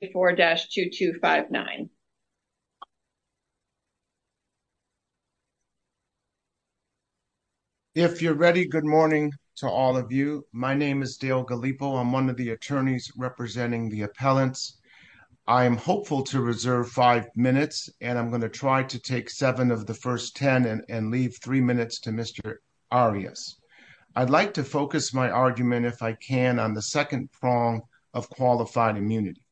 If you're ready, good morning to all of you. My name is Dale Gallipo. I'm one of the attorneys representing the appellants. I am hopeful to reserve five minutes and I'm going to try to take seven of the first ten and leave three minutes to Mr. Arias. I'd like to focus my argument if I can on the second prong of qualified immunity.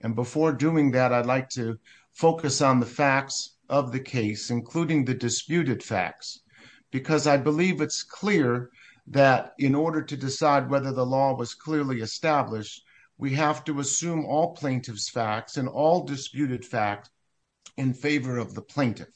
And before doing that, I'd like to focus on the facts of the case, including the disputed facts, because I believe it's clear that in order to decide whether the law was clearly established, we have to assume all plaintiff's facts and all disputed facts in favor of the plaintiff.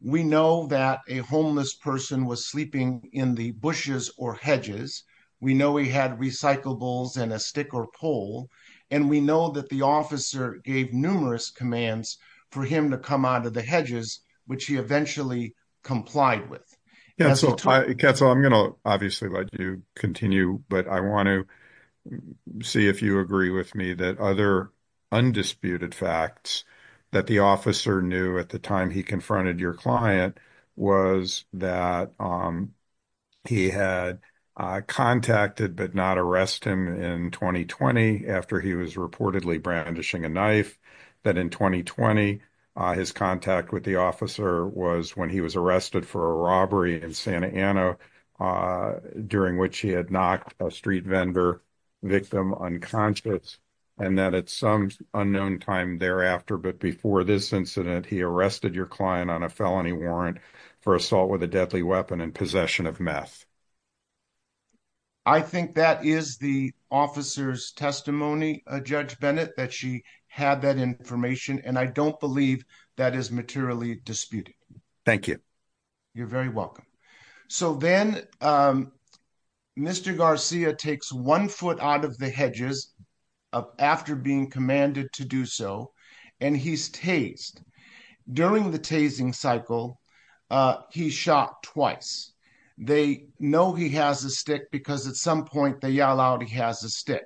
We know that a homeless person was sleeping in the bushes or hedges. We know he had recyclables and a stick or pole, and we know that the officer gave numerous commands for him to come out of the hedges, which he eventually complied with. Yeah, so I'm going to obviously let you continue, but I want to see if you agree with me that other undisputed facts that the officer knew at the time he confronted your client was that he had contacted but not arrested him in 2020 after he was reportedly brandishing a knife, that in 2020 his contact with the officer was when he was arrested for a robbery in Santa Ana, during which he had knocked a street vendor victim unconscious, and that at some unknown time thereafter, but before this incident, he arrested your client on a felony warrant for assault with a deadly weapon and possession of meth. I think that is the officer's testimony, Judge Bennett, that she had that information, and I don't believe that is materially disputed. Thank you. You're very welcome. So then Mr. Garcia takes one foot out of the hedges after being commanded to do so, and he's tased. During the tasing cycle, he's shot twice. They know he has a stick because at some point they yell out he has a stick.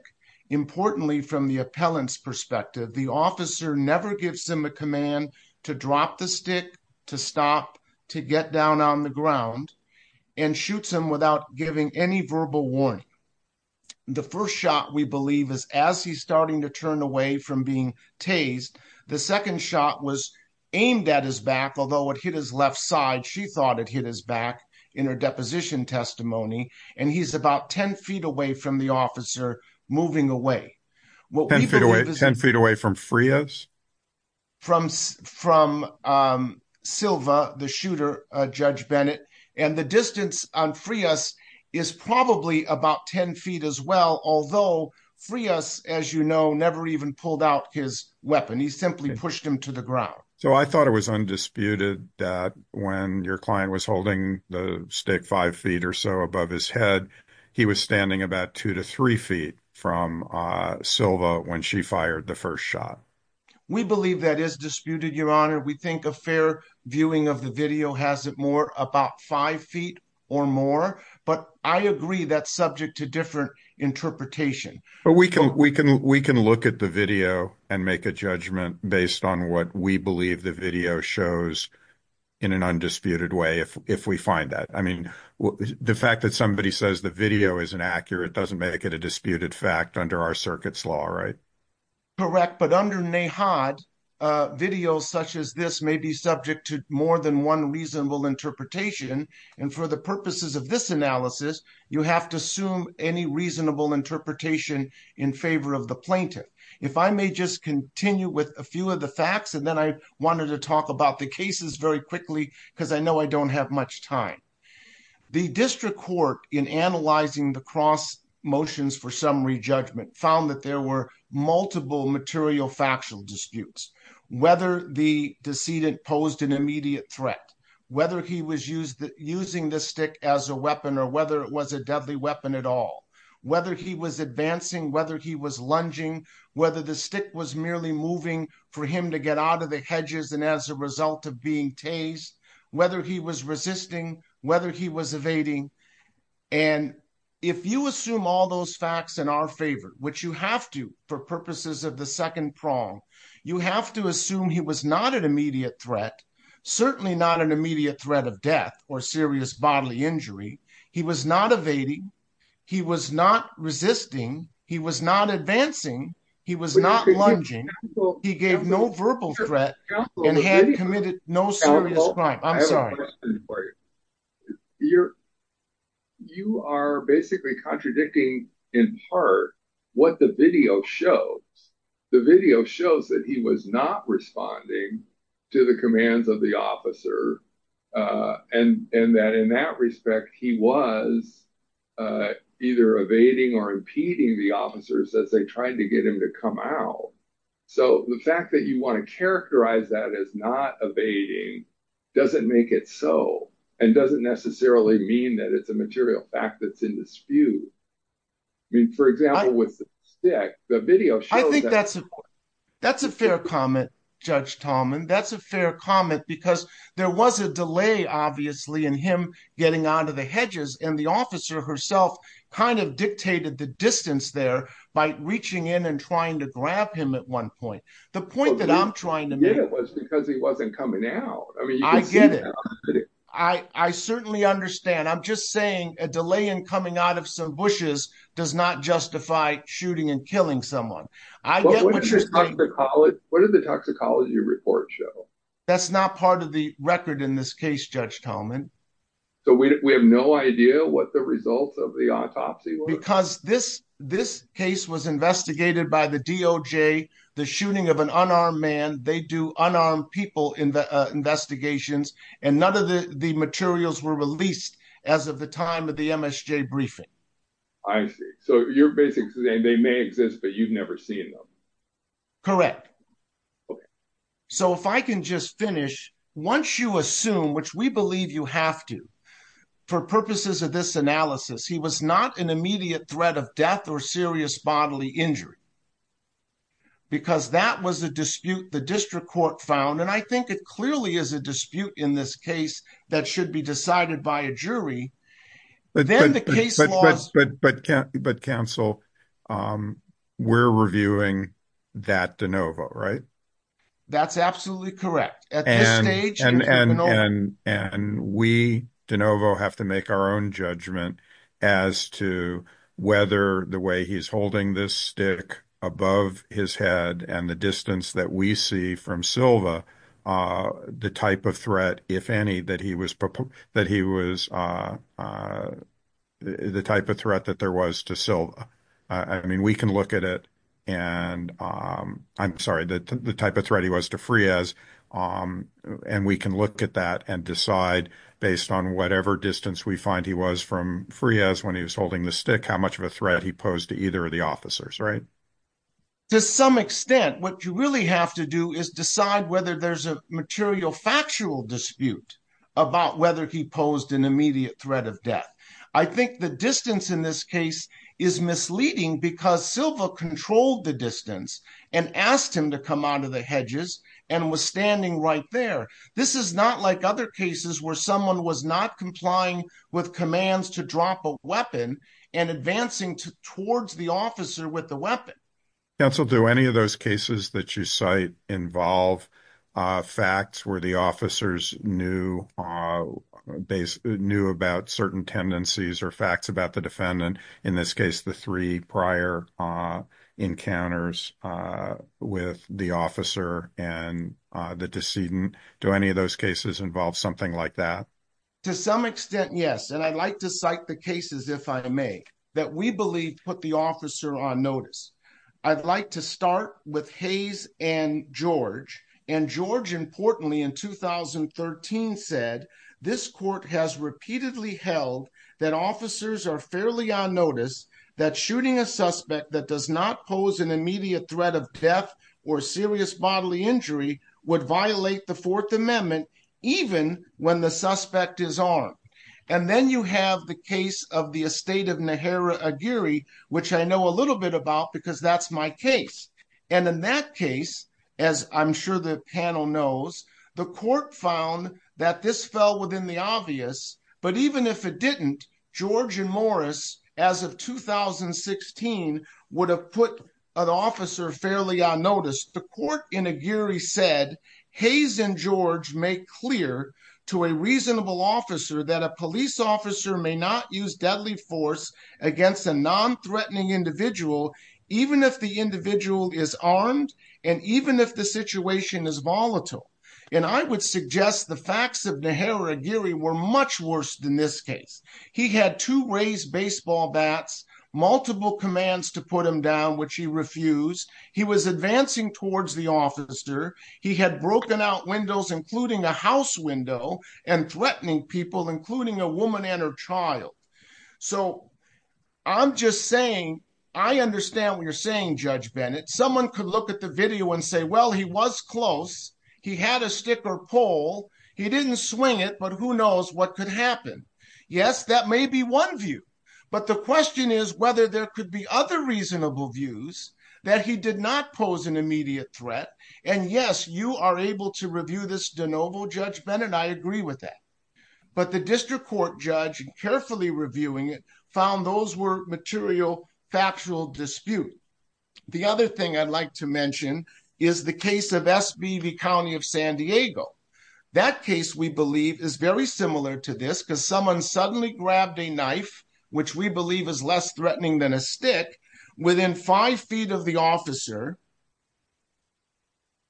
Importantly, from the appellant's perspective, the officer never gives him a command to drop the stick, to stop, to get down on the ground, and shoots him without giving any verbal warning. The first shot, we believe, is as he's starting to turn away from being tased. The second shot was aimed at his back, although it hit his left side. She thought it hit his back in her deposition testimony, and he's about 10 feet away from the officer moving away. 10 feet away from Frias? From Silva, the shooter, Judge Bennett, and the distance on Frias is probably about 10 feet as well, although Frias, as you know, never even pulled out his weapon. He simply pushed him to the ground. So I thought it was undisputed that when your client was holding the stick five feet or so above his head, he was standing about two to three feet from Silva when she fired the first shot. We believe that is disputed, Your Honor. We think a fair viewing of the video has it more about five feet or more, but I agree that's subject to different interpretation. But we can look at the video and make a judgment based on what we believe the video shows in an undisputed way if we find that. I mean, the fact that somebody says the video isn't accurate doesn't make it a disputed fact under our circuit's law, right? Correct, but under NAHOD, videos such as this may be subject to more than one reasonable interpretation, and for the purposes of this analysis, you have to assume any reasonable interpretation in favor of the plaintiff. If I may just continue with a few of the facts, and then I wanted to talk about the cases very quickly because I know I don't have much time. The district court, in analyzing the cross motions for summary judgment, found that there were multiple material factual disputes. Whether the decedent posed an immediate threat, whether he was using the stick as a weapon, or whether it was a deadly weapon at all, whether he was advancing, whether he was lunging, whether the stick was moving for him to get out of the hedges and as a result of being tased, whether he was resisting, whether he was evading, and if you assume all those facts in our favor, which you have to for purposes of the second prong, you have to assume he was not an immediate threat, certainly not an immediate threat of death or serious bodily injury. He was not evading, he was not resisting, he was not advancing, he was not lunging, he gave no verbal threat and had committed no serious crime. I'm sorry. You are basically contradicting in part what the video shows. The video shows that he was not responding to the commands of the officer and that in that respect, he was either evading or impeding the officers as they tried to get him to come out. So the fact that you want to characterize that as not evading doesn't make it so and doesn't necessarily mean that it's a material fact that's in dispute. I mean, for example, with the stick, the video shows that. I think that's a fair comment, Judge Tallman. That's fair comment because there was a delay obviously in him getting onto the hedges and the officer herself kind of dictated the distance there by reaching in and trying to grab him at one point. The point that I'm trying to make was because he wasn't coming out. I mean, I get it. I certainly understand. I'm just saying a delay in coming out of some bushes does not justify shooting and killing someone. What did the toxicology report show? That's not part of the record in this case, Judge Tallman. So we have no idea what the results of the autopsy were? Because this case was investigated by the DOJ, the shooting of an unarmed man. They do unarmed people in the investigations and none of the materials were released as of the time of the MSJ briefing. I see. So you're basically saying they may exist, but you've never seen them? Correct. So if I can just finish, once you assume, which we believe you have to, for purposes of this analysis, he was not an immediate threat of death or serious bodily injury because that was a dispute the district court found. And I think it clearly is a dispute in this case that should be decided by a jury. But counsel, we're reviewing that DeNovo, right? That's absolutely correct. At this stage- And we, DeNovo, have to make our own judgment as to whether the way he's holding this stick above his head and the distance that we see from Silva, the type of threat, if any, that he was the type of threat that there was to Silva. I mean, we can look at it and I'm sorry, that the type of threat he was to Fries, and we can look at that and decide based on whatever distance we find he was from Fries when he was holding the stick, how much of a threat he posed to either of the officers, right? To some extent, what you really have to do is decide whether there's a material factual dispute about whether he posed an immediate threat of death. I think the distance in this case is misleading because Silva controlled the distance and asked him to come out of the hedges and was standing right there. This is not like other cases where someone was not complying with commands to drop a weapon and advancing towards the officer with the weapon. Counsel, do any of those cases that you cite involve facts where the officers knew about certain tendencies or facts about the defendant? In this case, the three prior encounters with the officer and the decedent. Do any of those cases involve something like that? To some extent, yes, and I'd like to cite the cases, if I may, that we believe put the officer on notice. I'd like to start with Hayes and George, and George importantly in 2013 said, this court has repeatedly held that officers are fairly on notice that shooting a suspect that does not pose an immediate threat of death or serious bodily injury would violate the Fourth Amendment, even when the suspect is armed. Then you have the case of the estate of Nehara Aguirre, which I know a little bit about because that's my case. In that case, as I'm sure the panel knows, the court found that this fell within the obvious, but even if it didn't, George and Morris, as of 2016, would have put an officer fairly on notice. The court in Aguirre said, Hayes and George make clear to a reasonable officer that a police officer may not use deadly force against a non-threatening individual, even if the individual is armed and even if the situation is volatile. I would suggest the facts of Nehara Aguirre were much worse than this case. He had to raise baseball bats, multiple commands to put him down, which he refused. He was advancing towards the officer. He had broken out windows, including a house window, and threatening people, including a woman and her child. I understand what you're saying, Judge Bennett. Someone could look at the video and say, well, he was close. He had a stick or pole. He didn't swing it, but who knows what could happen? Yes, that may be one view, but the question is whether there could be other reasonable views that he did not pose an immediate threat. And yes, you are able to review this de novo, Judge Bennett. I agree with that. But the district court judge, carefully reviewing it, found those were material, factual dispute. The other thing I'd like to mention is the case of SBV County of San Diego. That case, we believe, is very similar to this because someone suddenly grabbed a knife, which we believe is less threatening than a stick, within five feet of the officer.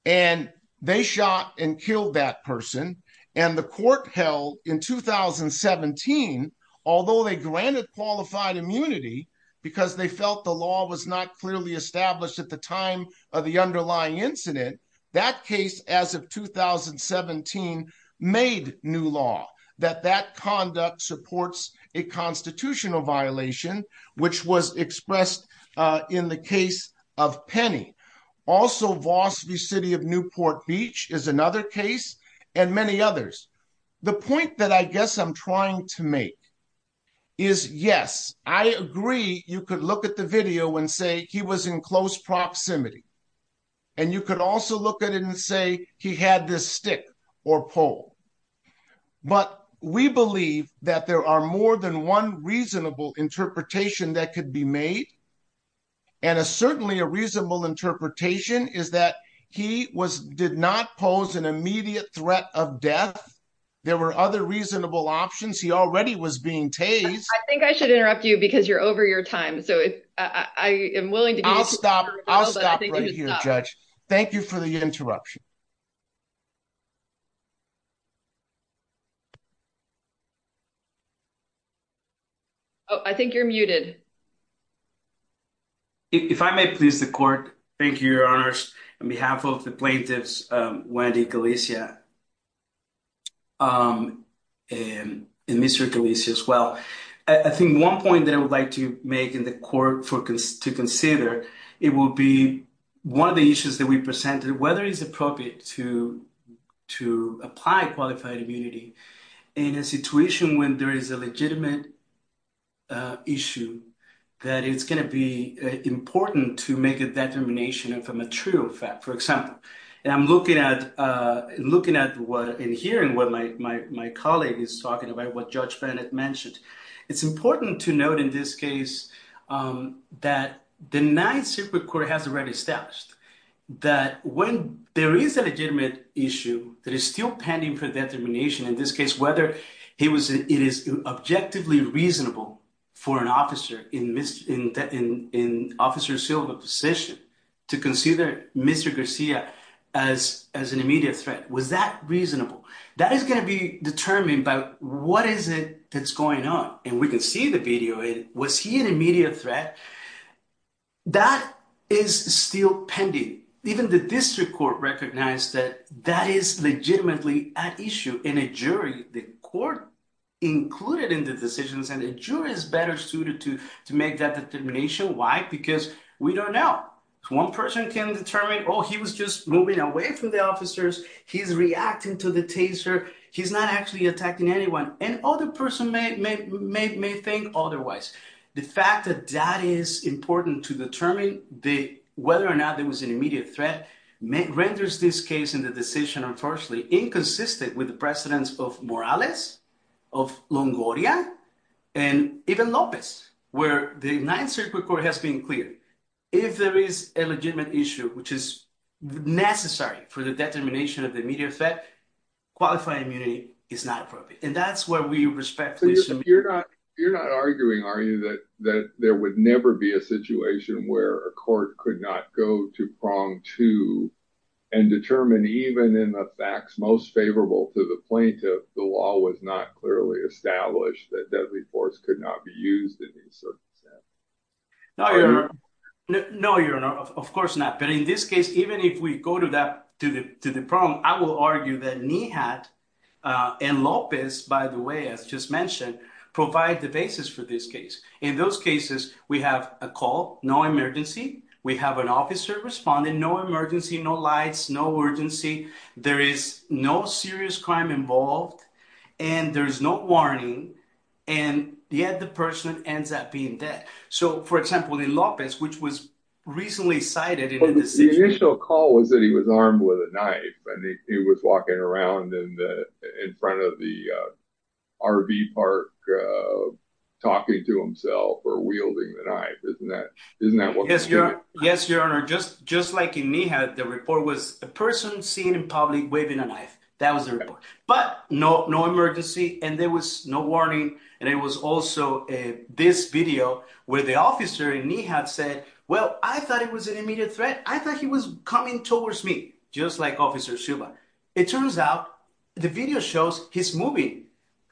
And they shot and killed that person. And the court held in 2017, although they granted qualified immunity because they felt the law was not clearly established at the time of the underlying incident, that case, as of 2017, made new law that that conduct supports a constitutional violation, which was expressed in the case of Penny. Also, Voss v. City of Newport Beach is another case, and many others. The point that I guess I'm trying to make is, yes, I agree you could look at the and say he was in close proximity. And you could also look at it and say he had this stick or pole. But we believe that there are more than one reasonable interpretation that could be made. And certainly a reasonable interpretation is that he did not pose an immediate threat of death. There were other reasonable options. He already was being tased. I think I should interrupt you because you're over your time. So I am willing to. I'll stop. I'll stop right here, Judge. Thank you for the interruption. Oh, I think you're muted. If I may please the court. Thank you, Your Honors. On behalf of the plaintiffs, Wendy Galicia, and Mr. Galicia as well, I think one point that I would like to make in the court to consider, it will be one of the issues that we presented, whether it's appropriate to apply qualified immunity in a situation when there is a legitimate issue, that it's going to be important to make a determination of a material fact. For example, and I'm looking at and hearing what my colleague is talking about, what Judge Bennett mentioned. It's important to note in this case that the Ninth Circuit Court has already established that when there is a legitimate issue that is still pending for determination, in this case, whether it is objectively reasonable for an officer in Officer Silva's position to consider Mr. Garcia as an immediate threat. Was that reasonable? That is going to be determined by what is it that's going on. And we can see the video. Was he an immediate threat? That is still pending. Even the district court recognized that that is legitimately at issue. In a jury, the court included in the decisions and the jury is better suited to make that determination. Why? Because we don't know. One person can determine, oh, he was just moving away from the officers. He's reacting to the taser. He's not actually attacking anyone. And other person may think otherwise. The fact that that is important to determine whether or not there was an immediate threat renders this case in the decision, unfortunately, inconsistent with the of Morales, of Longoria, and even Lopez, where the Ninth Circuit Court has been clear. If there is a legitimate issue, which is necessary for the determination of the immediate threat, qualifying immunity is not appropriate. And that's where we respect. You're not arguing, are you, that there would never be a situation where a court could not go to prong two and determine, even in the facts most favorable to the plaintiff, the law was not clearly established, that deadly force could not be used in these circumstances? No, your honor. Of course not. But in this case, even if we go to the prong, I will argue that Nihat and Lopez, by the way, as just mentioned, provide the basis for this case. In those cases, we have a call, no emergency, we have an officer responding, no emergency, no lights, no urgency, there is no serious crime involved, and there's no warning, and yet the person ends up being dead. So, for example, in Lopez, which was recently cited in the decision. The initial call was that he was armed with a knife, and he was walking around in front of the RV park, talking to himself, or wielding the knife. Isn't that what they're doing? Yes, your honor. Just like in Nihat, the report was a person seen in public waving a knife. That was the report. But no emergency, and there was no warning, and it was also this video where the officer in Nihat said, well, I thought it was an immediate threat. I thought he was coming towards me, just like officer Silva. It turns out the video shows he's moving.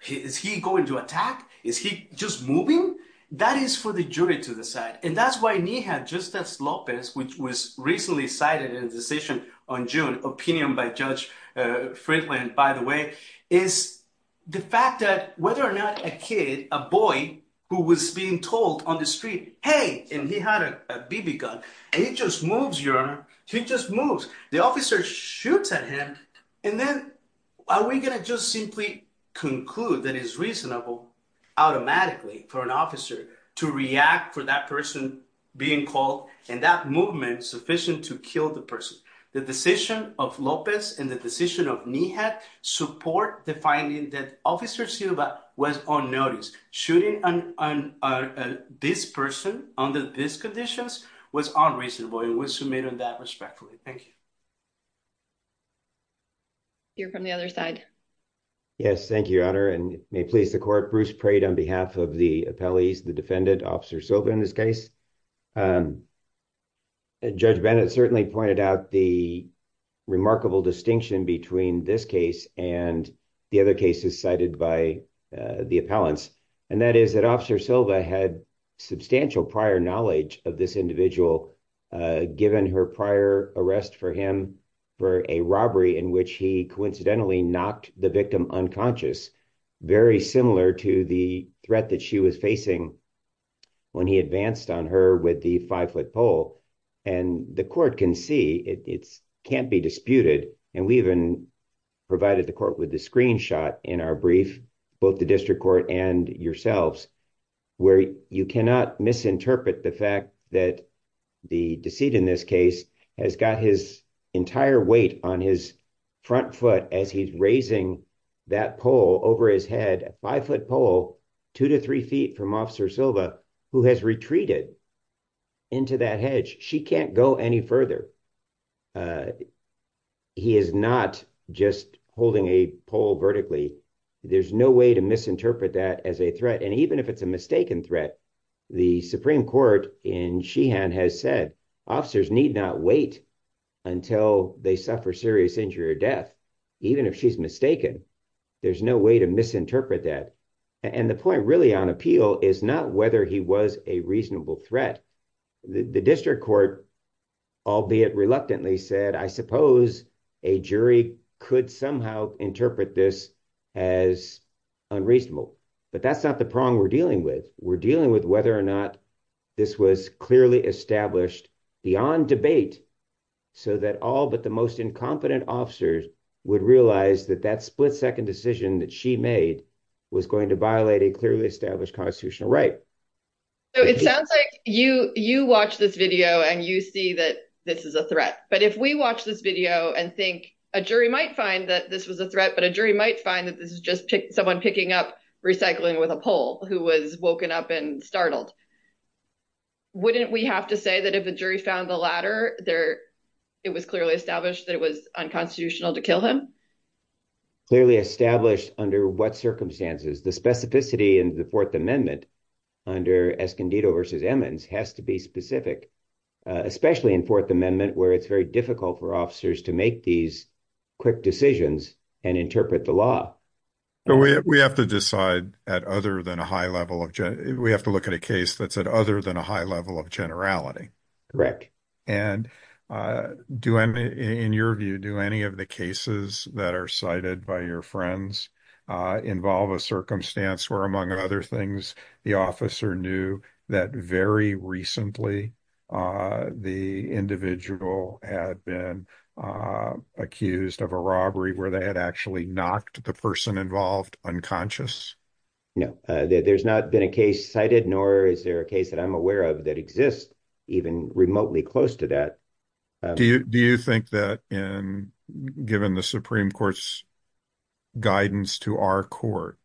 Is he going to attack? Is he just moving? That is for the jury to decide. And that's why Nihat, just as Lopez, which was recently cited in the decision on June, opinion by Judge Franklin, by the way, is the fact that whether or not a kid, a boy who was being told on the street, hey, and he had a BB gun, and he just moves, your honor. He just moves. The officer shoots at him, and then are we going to just simply conclude that it's reasonable automatically for an officer to react for that person being called, and that movement sufficient to kill the person. The decision of Lopez and the decision of Nihat support the finding that officer Silva was on notice. Shooting this person under these conditions was unreasonable, and we'll submit on that respectfully. Thank you. Hear from the other side. Yes, thank you, your honor, and may it please the court, Bruce Prade on behalf of the appellees, the defendant, officer Silva in this case. Judge Bennett certainly pointed out the remarkable distinction between this case and the other cases cited by the appellants, and that is that officer Silva had substantial prior knowledge of this individual given her prior arrest for him for a robbery in which he coincidentally knocked the victim unconscious, very similar to the threat that she was facing when he advanced on her with the five-foot pole, and the court can see it can't be disputed, and we even provided the court with the screenshot in our brief, both the district court and yourselves, where you cannot misinterpret the fact that the deceit in this case has got his entire weight on his front foot as he's raising that pole over his head, a five-foot pole, two to three feet from officer Silva, who has retreated into that hedge. She can't go any further. He is not just holding a pole vertically. There's no way to misinterpret that as a threat, and even if it's a mistaken threat, the Supreme Court in Sheehan has said officers need not wait until they suffer serious injury or death, even if she's mistaken. There's no way to misinterpret that, and the point really on appeal is not whether he was a reasonable threat. The district court, albeit reluctantly, said, I suppose a jury could somehow interpret this as unreasonable, but that's not the prong we're dealing with. We're dealing with whether or not this was clearly established beyond debate so that all but the most incompetent officers would realize that that split-second decision that she made was going to violate a clearly established constitutional right. It sounds like you watch this video and you see that this is a threat, but if we watch this video and think a jury might find that this was a threat, but a jury might find that this is just someone picking up recycling with a pole who was woken up and startled, wouldn't we have to say that if the jury found the latter, it was clearly established that it was unconstitutional to kill him? Clearly established under what circumstances? The specificity in the Fourth Amendment under Escondido versus Emmons has to be specific, especially in Fourth Amendment, where it's very difficult for officers to make these quick decisions and interpret the law. We have to look at a case that's at other than a high level of generality. Correct. And in your view, do any of the cases that are cited by your friends involve a circumstance where, among other things, the officer knew that very recently the individual had been accused of a robbery where they had actually knocked the person involved unconscious? No, there's not been a case cited, nor is there a case that I'm aware of that exists even remotely close to that. Do you think that given the Supreme Court's guidance to our court,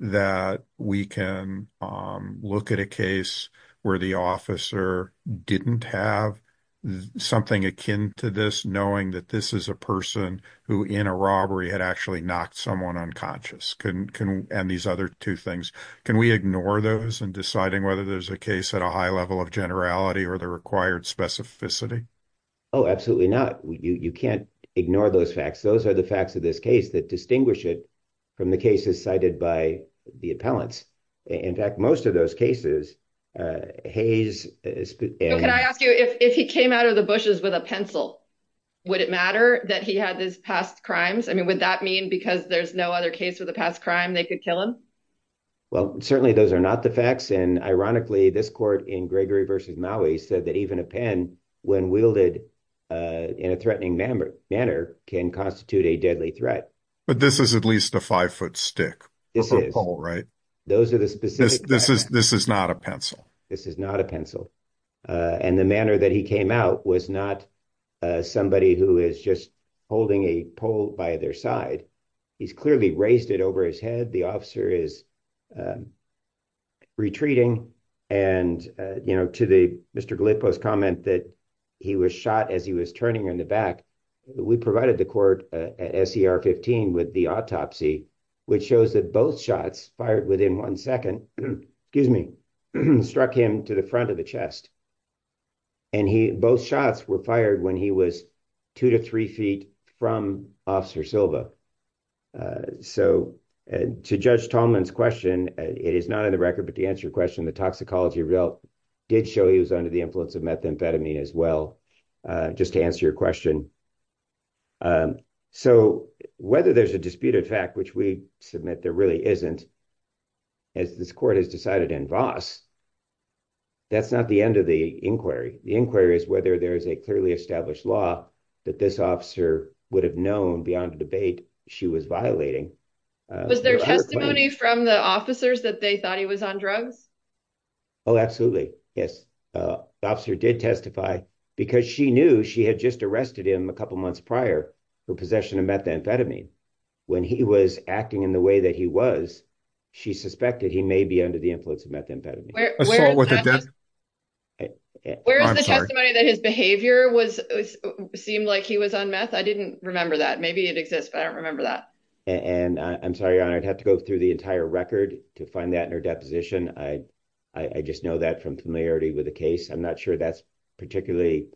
that we can look at a case where the officer didn't have something akin to this knowing that this is a person who in a robbery had actually knocked someone unconscious? And these other two things, can we ignore those in deciding whether there's a case at a high level of generality or the required specificity? Oh, absolutely not. You can't ignore those facts. Those are the facts of this case that distinguish it from the cases cited by the appellants. In fact, most of those cases, Hayes... Can I ask you, if he came out of the bushes with a pencil, would it matter that he had these past crimes? I mean, would that mean because there's no other past crime, they could kill him? Well, certainly those are not the facts. And ironically, this court in Gregory v. Maui said that even a pen, when wielded in a threatening manner, can constitute a deadly threat. But this is at least a five-foot stick. This is. For a pole, right? This is not a pencil. This is not a pencil. And the manner that he came out was not somebody who is just holding a pole by their side. He's clearly raised it over his head. The officer is retreating. And, you know, to Mr. Gallipo's comment that he was shot as he was turning in the back, we provided the court SCR 15 with the autopsy, which shows that both shots fired within one second, excuse me, struck him to the front of the chest. And both shots were fired when he was two to three feet from Officer Silva. So to Judge Tallman's question, it is not in the record, but to answer your question, the toxicology result did show he was under the influence of methamphetamine as well, just to answer your question. So whether there's a disputed fact, which we submit there really isn't, as this court has decided in Voss, that's not the end of the inquiry. The inquiry is whether there is a clearly established law that this officer would have known beyond a debate she was violating. Was there testimony from the officers that they thought he was on drugs? Oh, absolutely. Yes. The officer did testify because she knew she had just arrested him a couple of months prior for possession of methamphetamine. When he was acting in the way that he was, she suspected he may be under the influence of methamphetamine. Where is the testimony that his behavior seemed like he was on meth? I didn't remember that. Maybe it exists, but I don't remember that. And I'm sorry, Your Honor, I'd have to go through the entire record to find that in her deposition. I just know that from familiarity with the case. I'm not sure that's particularly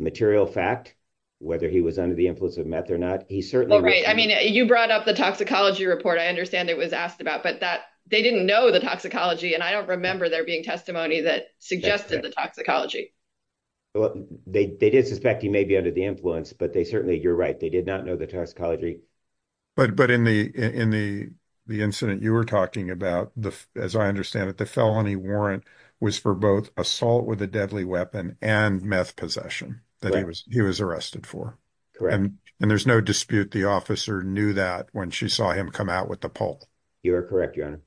material fact, whether he was under the influence of meth or not. He certainly was. Well, right. I mean, you brought up the toxicology report. I understand it was asked about, but they didn't know the toxicology. And I don't remember there being testimony that suggested the toxicology. Well, they did suspect he may be under the influence, but they certainly, you're right, they did not know the toxicology. But in the incident you were talking about, as I understand it, the felony warrant was for both assault with a deadly weapon and meth possession that he was arrested for. And there's no dispute the officer knew that when she saw him come out with the pulp. You are correct, Your Honor.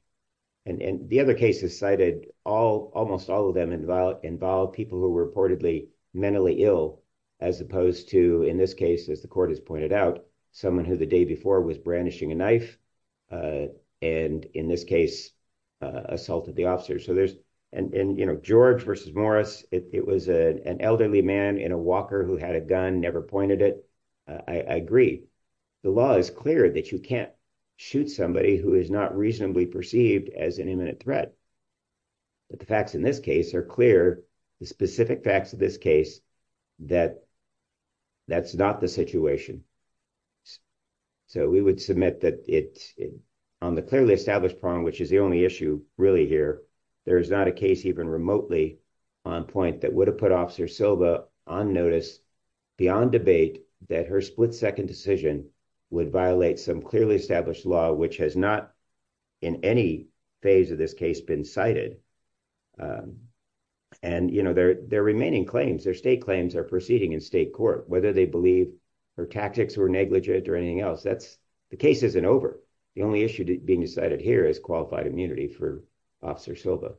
And the other cases cited, almost all of them involved people who were reportedly mentally ill, as opposed to, in this case, as the court has pointed out, someone who the day before was brandishing a knife, and in this case, assaulted the officer. So there's, and George versus Morris, it was an elderly man in a walker who had a gun, never pointed it. I agree. The law is clear that you can't shoot somebody who is not reasonably perceived as an imminent threat. But the facts in this case are clear, the specific facts of this case, that that's not the situation. So we would submit that on the clearly established problem, which is the only issue really here, there is not a case even remotely on point that would have put Officer Silva on notice beyond debate, that her split second decision would violate some clearly established law, which has not in any phase of this case been cited. And you know, their remaining claims, their state claims are proceeding in state court, whether they believe her tactics were negligent or anything else. That's the case isn't over. The only issue being decided here is qualified immunity for Officer Silva.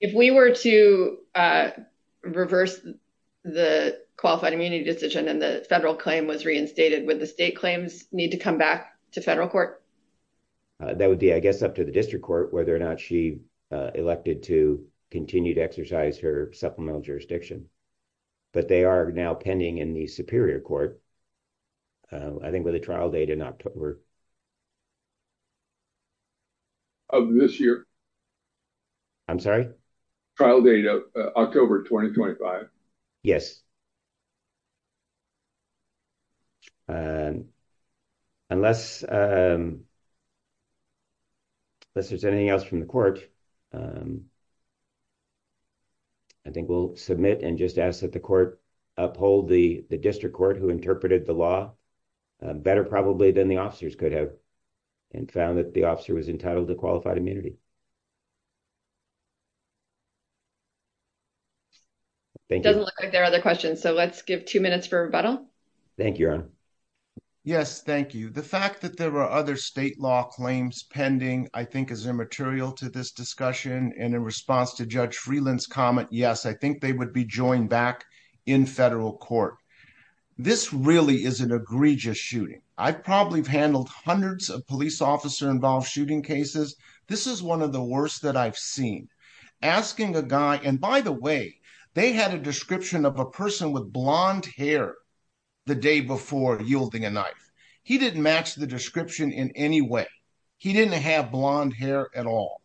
If we were to reverse the qualified immunity decision and the federal claim was reinstated, would the state claims need to come back to federal court? That would be, I guess, up to the district court, whether or not she elected to continue to exercise her supplemental jurisdiction. But they are now pending in the superior court. I think with a trial date in October of this year, I'm sorry, trial date of October 2025. Yes. Unless, unless there's anything else from the court, I think we'll submit and just ask that the court uphold the district court who interpreted the law better probably than the officers could have and found that the officer was entitled to qualified immunity. Thank you. Doesn't look like there are other questions. So let's give two minutes for rebuttal. Thank you, Erin. Yes, thank you. The fact that there were other state law claims pending, I think is immaterial to this discussion. And in response to Judge Freeland's comment, yes, I think they would be joined back in federal court. This really is an egregious shooting. I've probably handled hundreds of police officer involved shooting cases. This is one of the worst that I've seen. Asking a guy, and by the way, they had a description of a person with blonde hair the day before yielding a knife. He didn't match the description in any way. He didn't have blonde hair at all.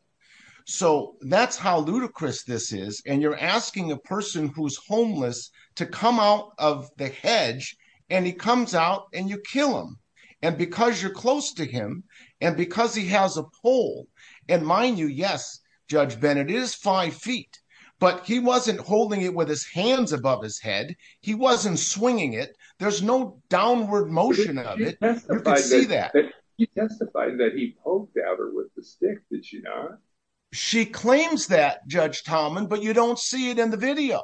So that's how ludicrous this is. And you're asking a person who's homeless to come out of the hedge and he comes out and you kill him. And because you're close to him and because he has a pole and mind you, yes, Judge Bennett is five feet, but he wasn't holding it with his hands above his head. He wasn't swinging it. There's no downward motion of it. You could see with the stick, did you not? She claims that, Judge Talman, but you don't see it in the video.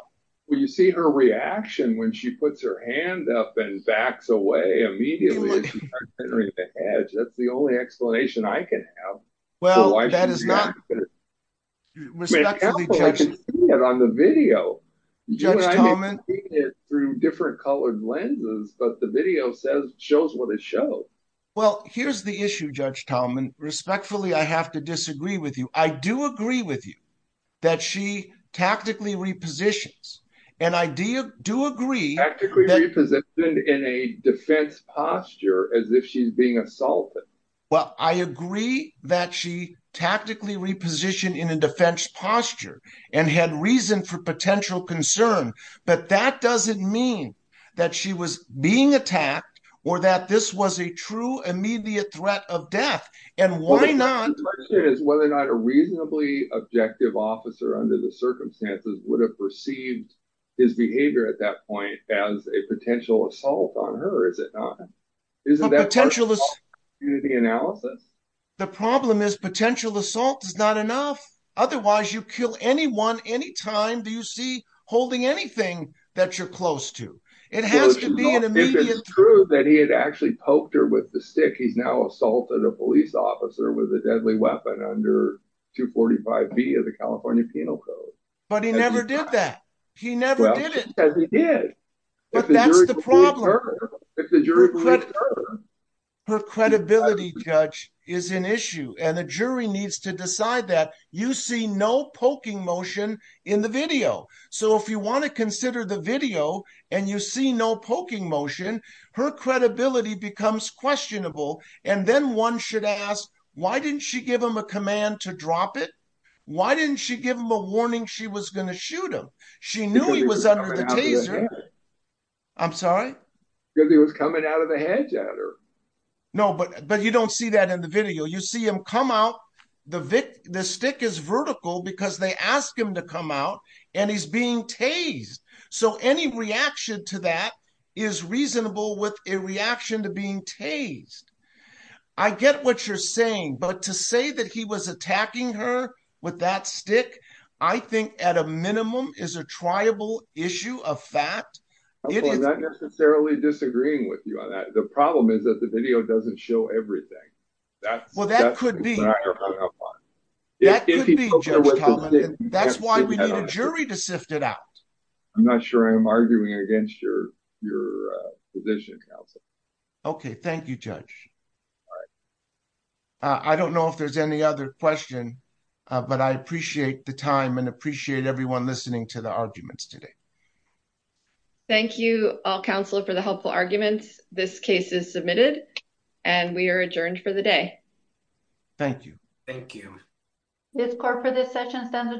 Well, you see her reaction when she puts her hand up and backs away immediately. That's the only explanation I can have. Well, that is not. On the video, through different colored lenses, but the video shows what it shows. Well, here's the issue, Judge Talman. Respectfully, I have to disagree with you. I do agree with you that she tactically repositions and I do agree. Tactically repositioned in a defense posture as if she's being assaulted. Well, I agree that she tactically repositioned in a defense posture and had reason for potential concern, but that doesn't mean that she was being attacked or that this was a true immediate threat of death and why not? The question is whether or not a reasonably objective officer under the circumstances would have perceived his behavior at that point as a potential assault on her, is it not? Isn't that part of the analysis? The problem is potential assault is not enough. Otherwise, you kill anyone any time you see holding anything that you're close to. It has to be an immediate threat. If it's true that he had actually poked her with the stick, he's now assaulted a police officer with a deadly weapon under 245B of the California Penal Code. But he never did that. He never did it. Yes, he did. But that's the problem. If the jury... Her credibility, Judge, is an issue and a jury needs to decide that. You see no poking motion in the video. So if you want to consider the video and you see no poking motion, her credibility becomes questionable. And then one should ask, why didn't she give him a command to drop it? Why didn't she give him a warning she was going to shoot him? She knew he was under the hedge. I'm sorry? Because he was coming out of the hedge at her. No, but you don't see that in the video. You see him come out. The stick is vertical because they ask him to come out and he's being tased. So any reaction to that is reasonable with a reaction to being tased. I get what you're saying. But to say that he was attacking her with that stick, I think at a minimum is a triable issue of fact. I'm not necessarily disagreeing with you on that. The problem is that the video doesn't show everything. That's... Well, that could be. That could be, Judge. That's why we need a jury to sift it out. I'm not sure I'm arguing against your position, counsel. Okay. Thank you, Judge. I don't know if there's any other question, but I appreciate the time and appreciate everyone listening to the arguments today. Thank you all, counsel, for the helpful arguments. This case is submitted and we are adjourned for the day. Thank you. Thank you. This court for this session stands adjourned.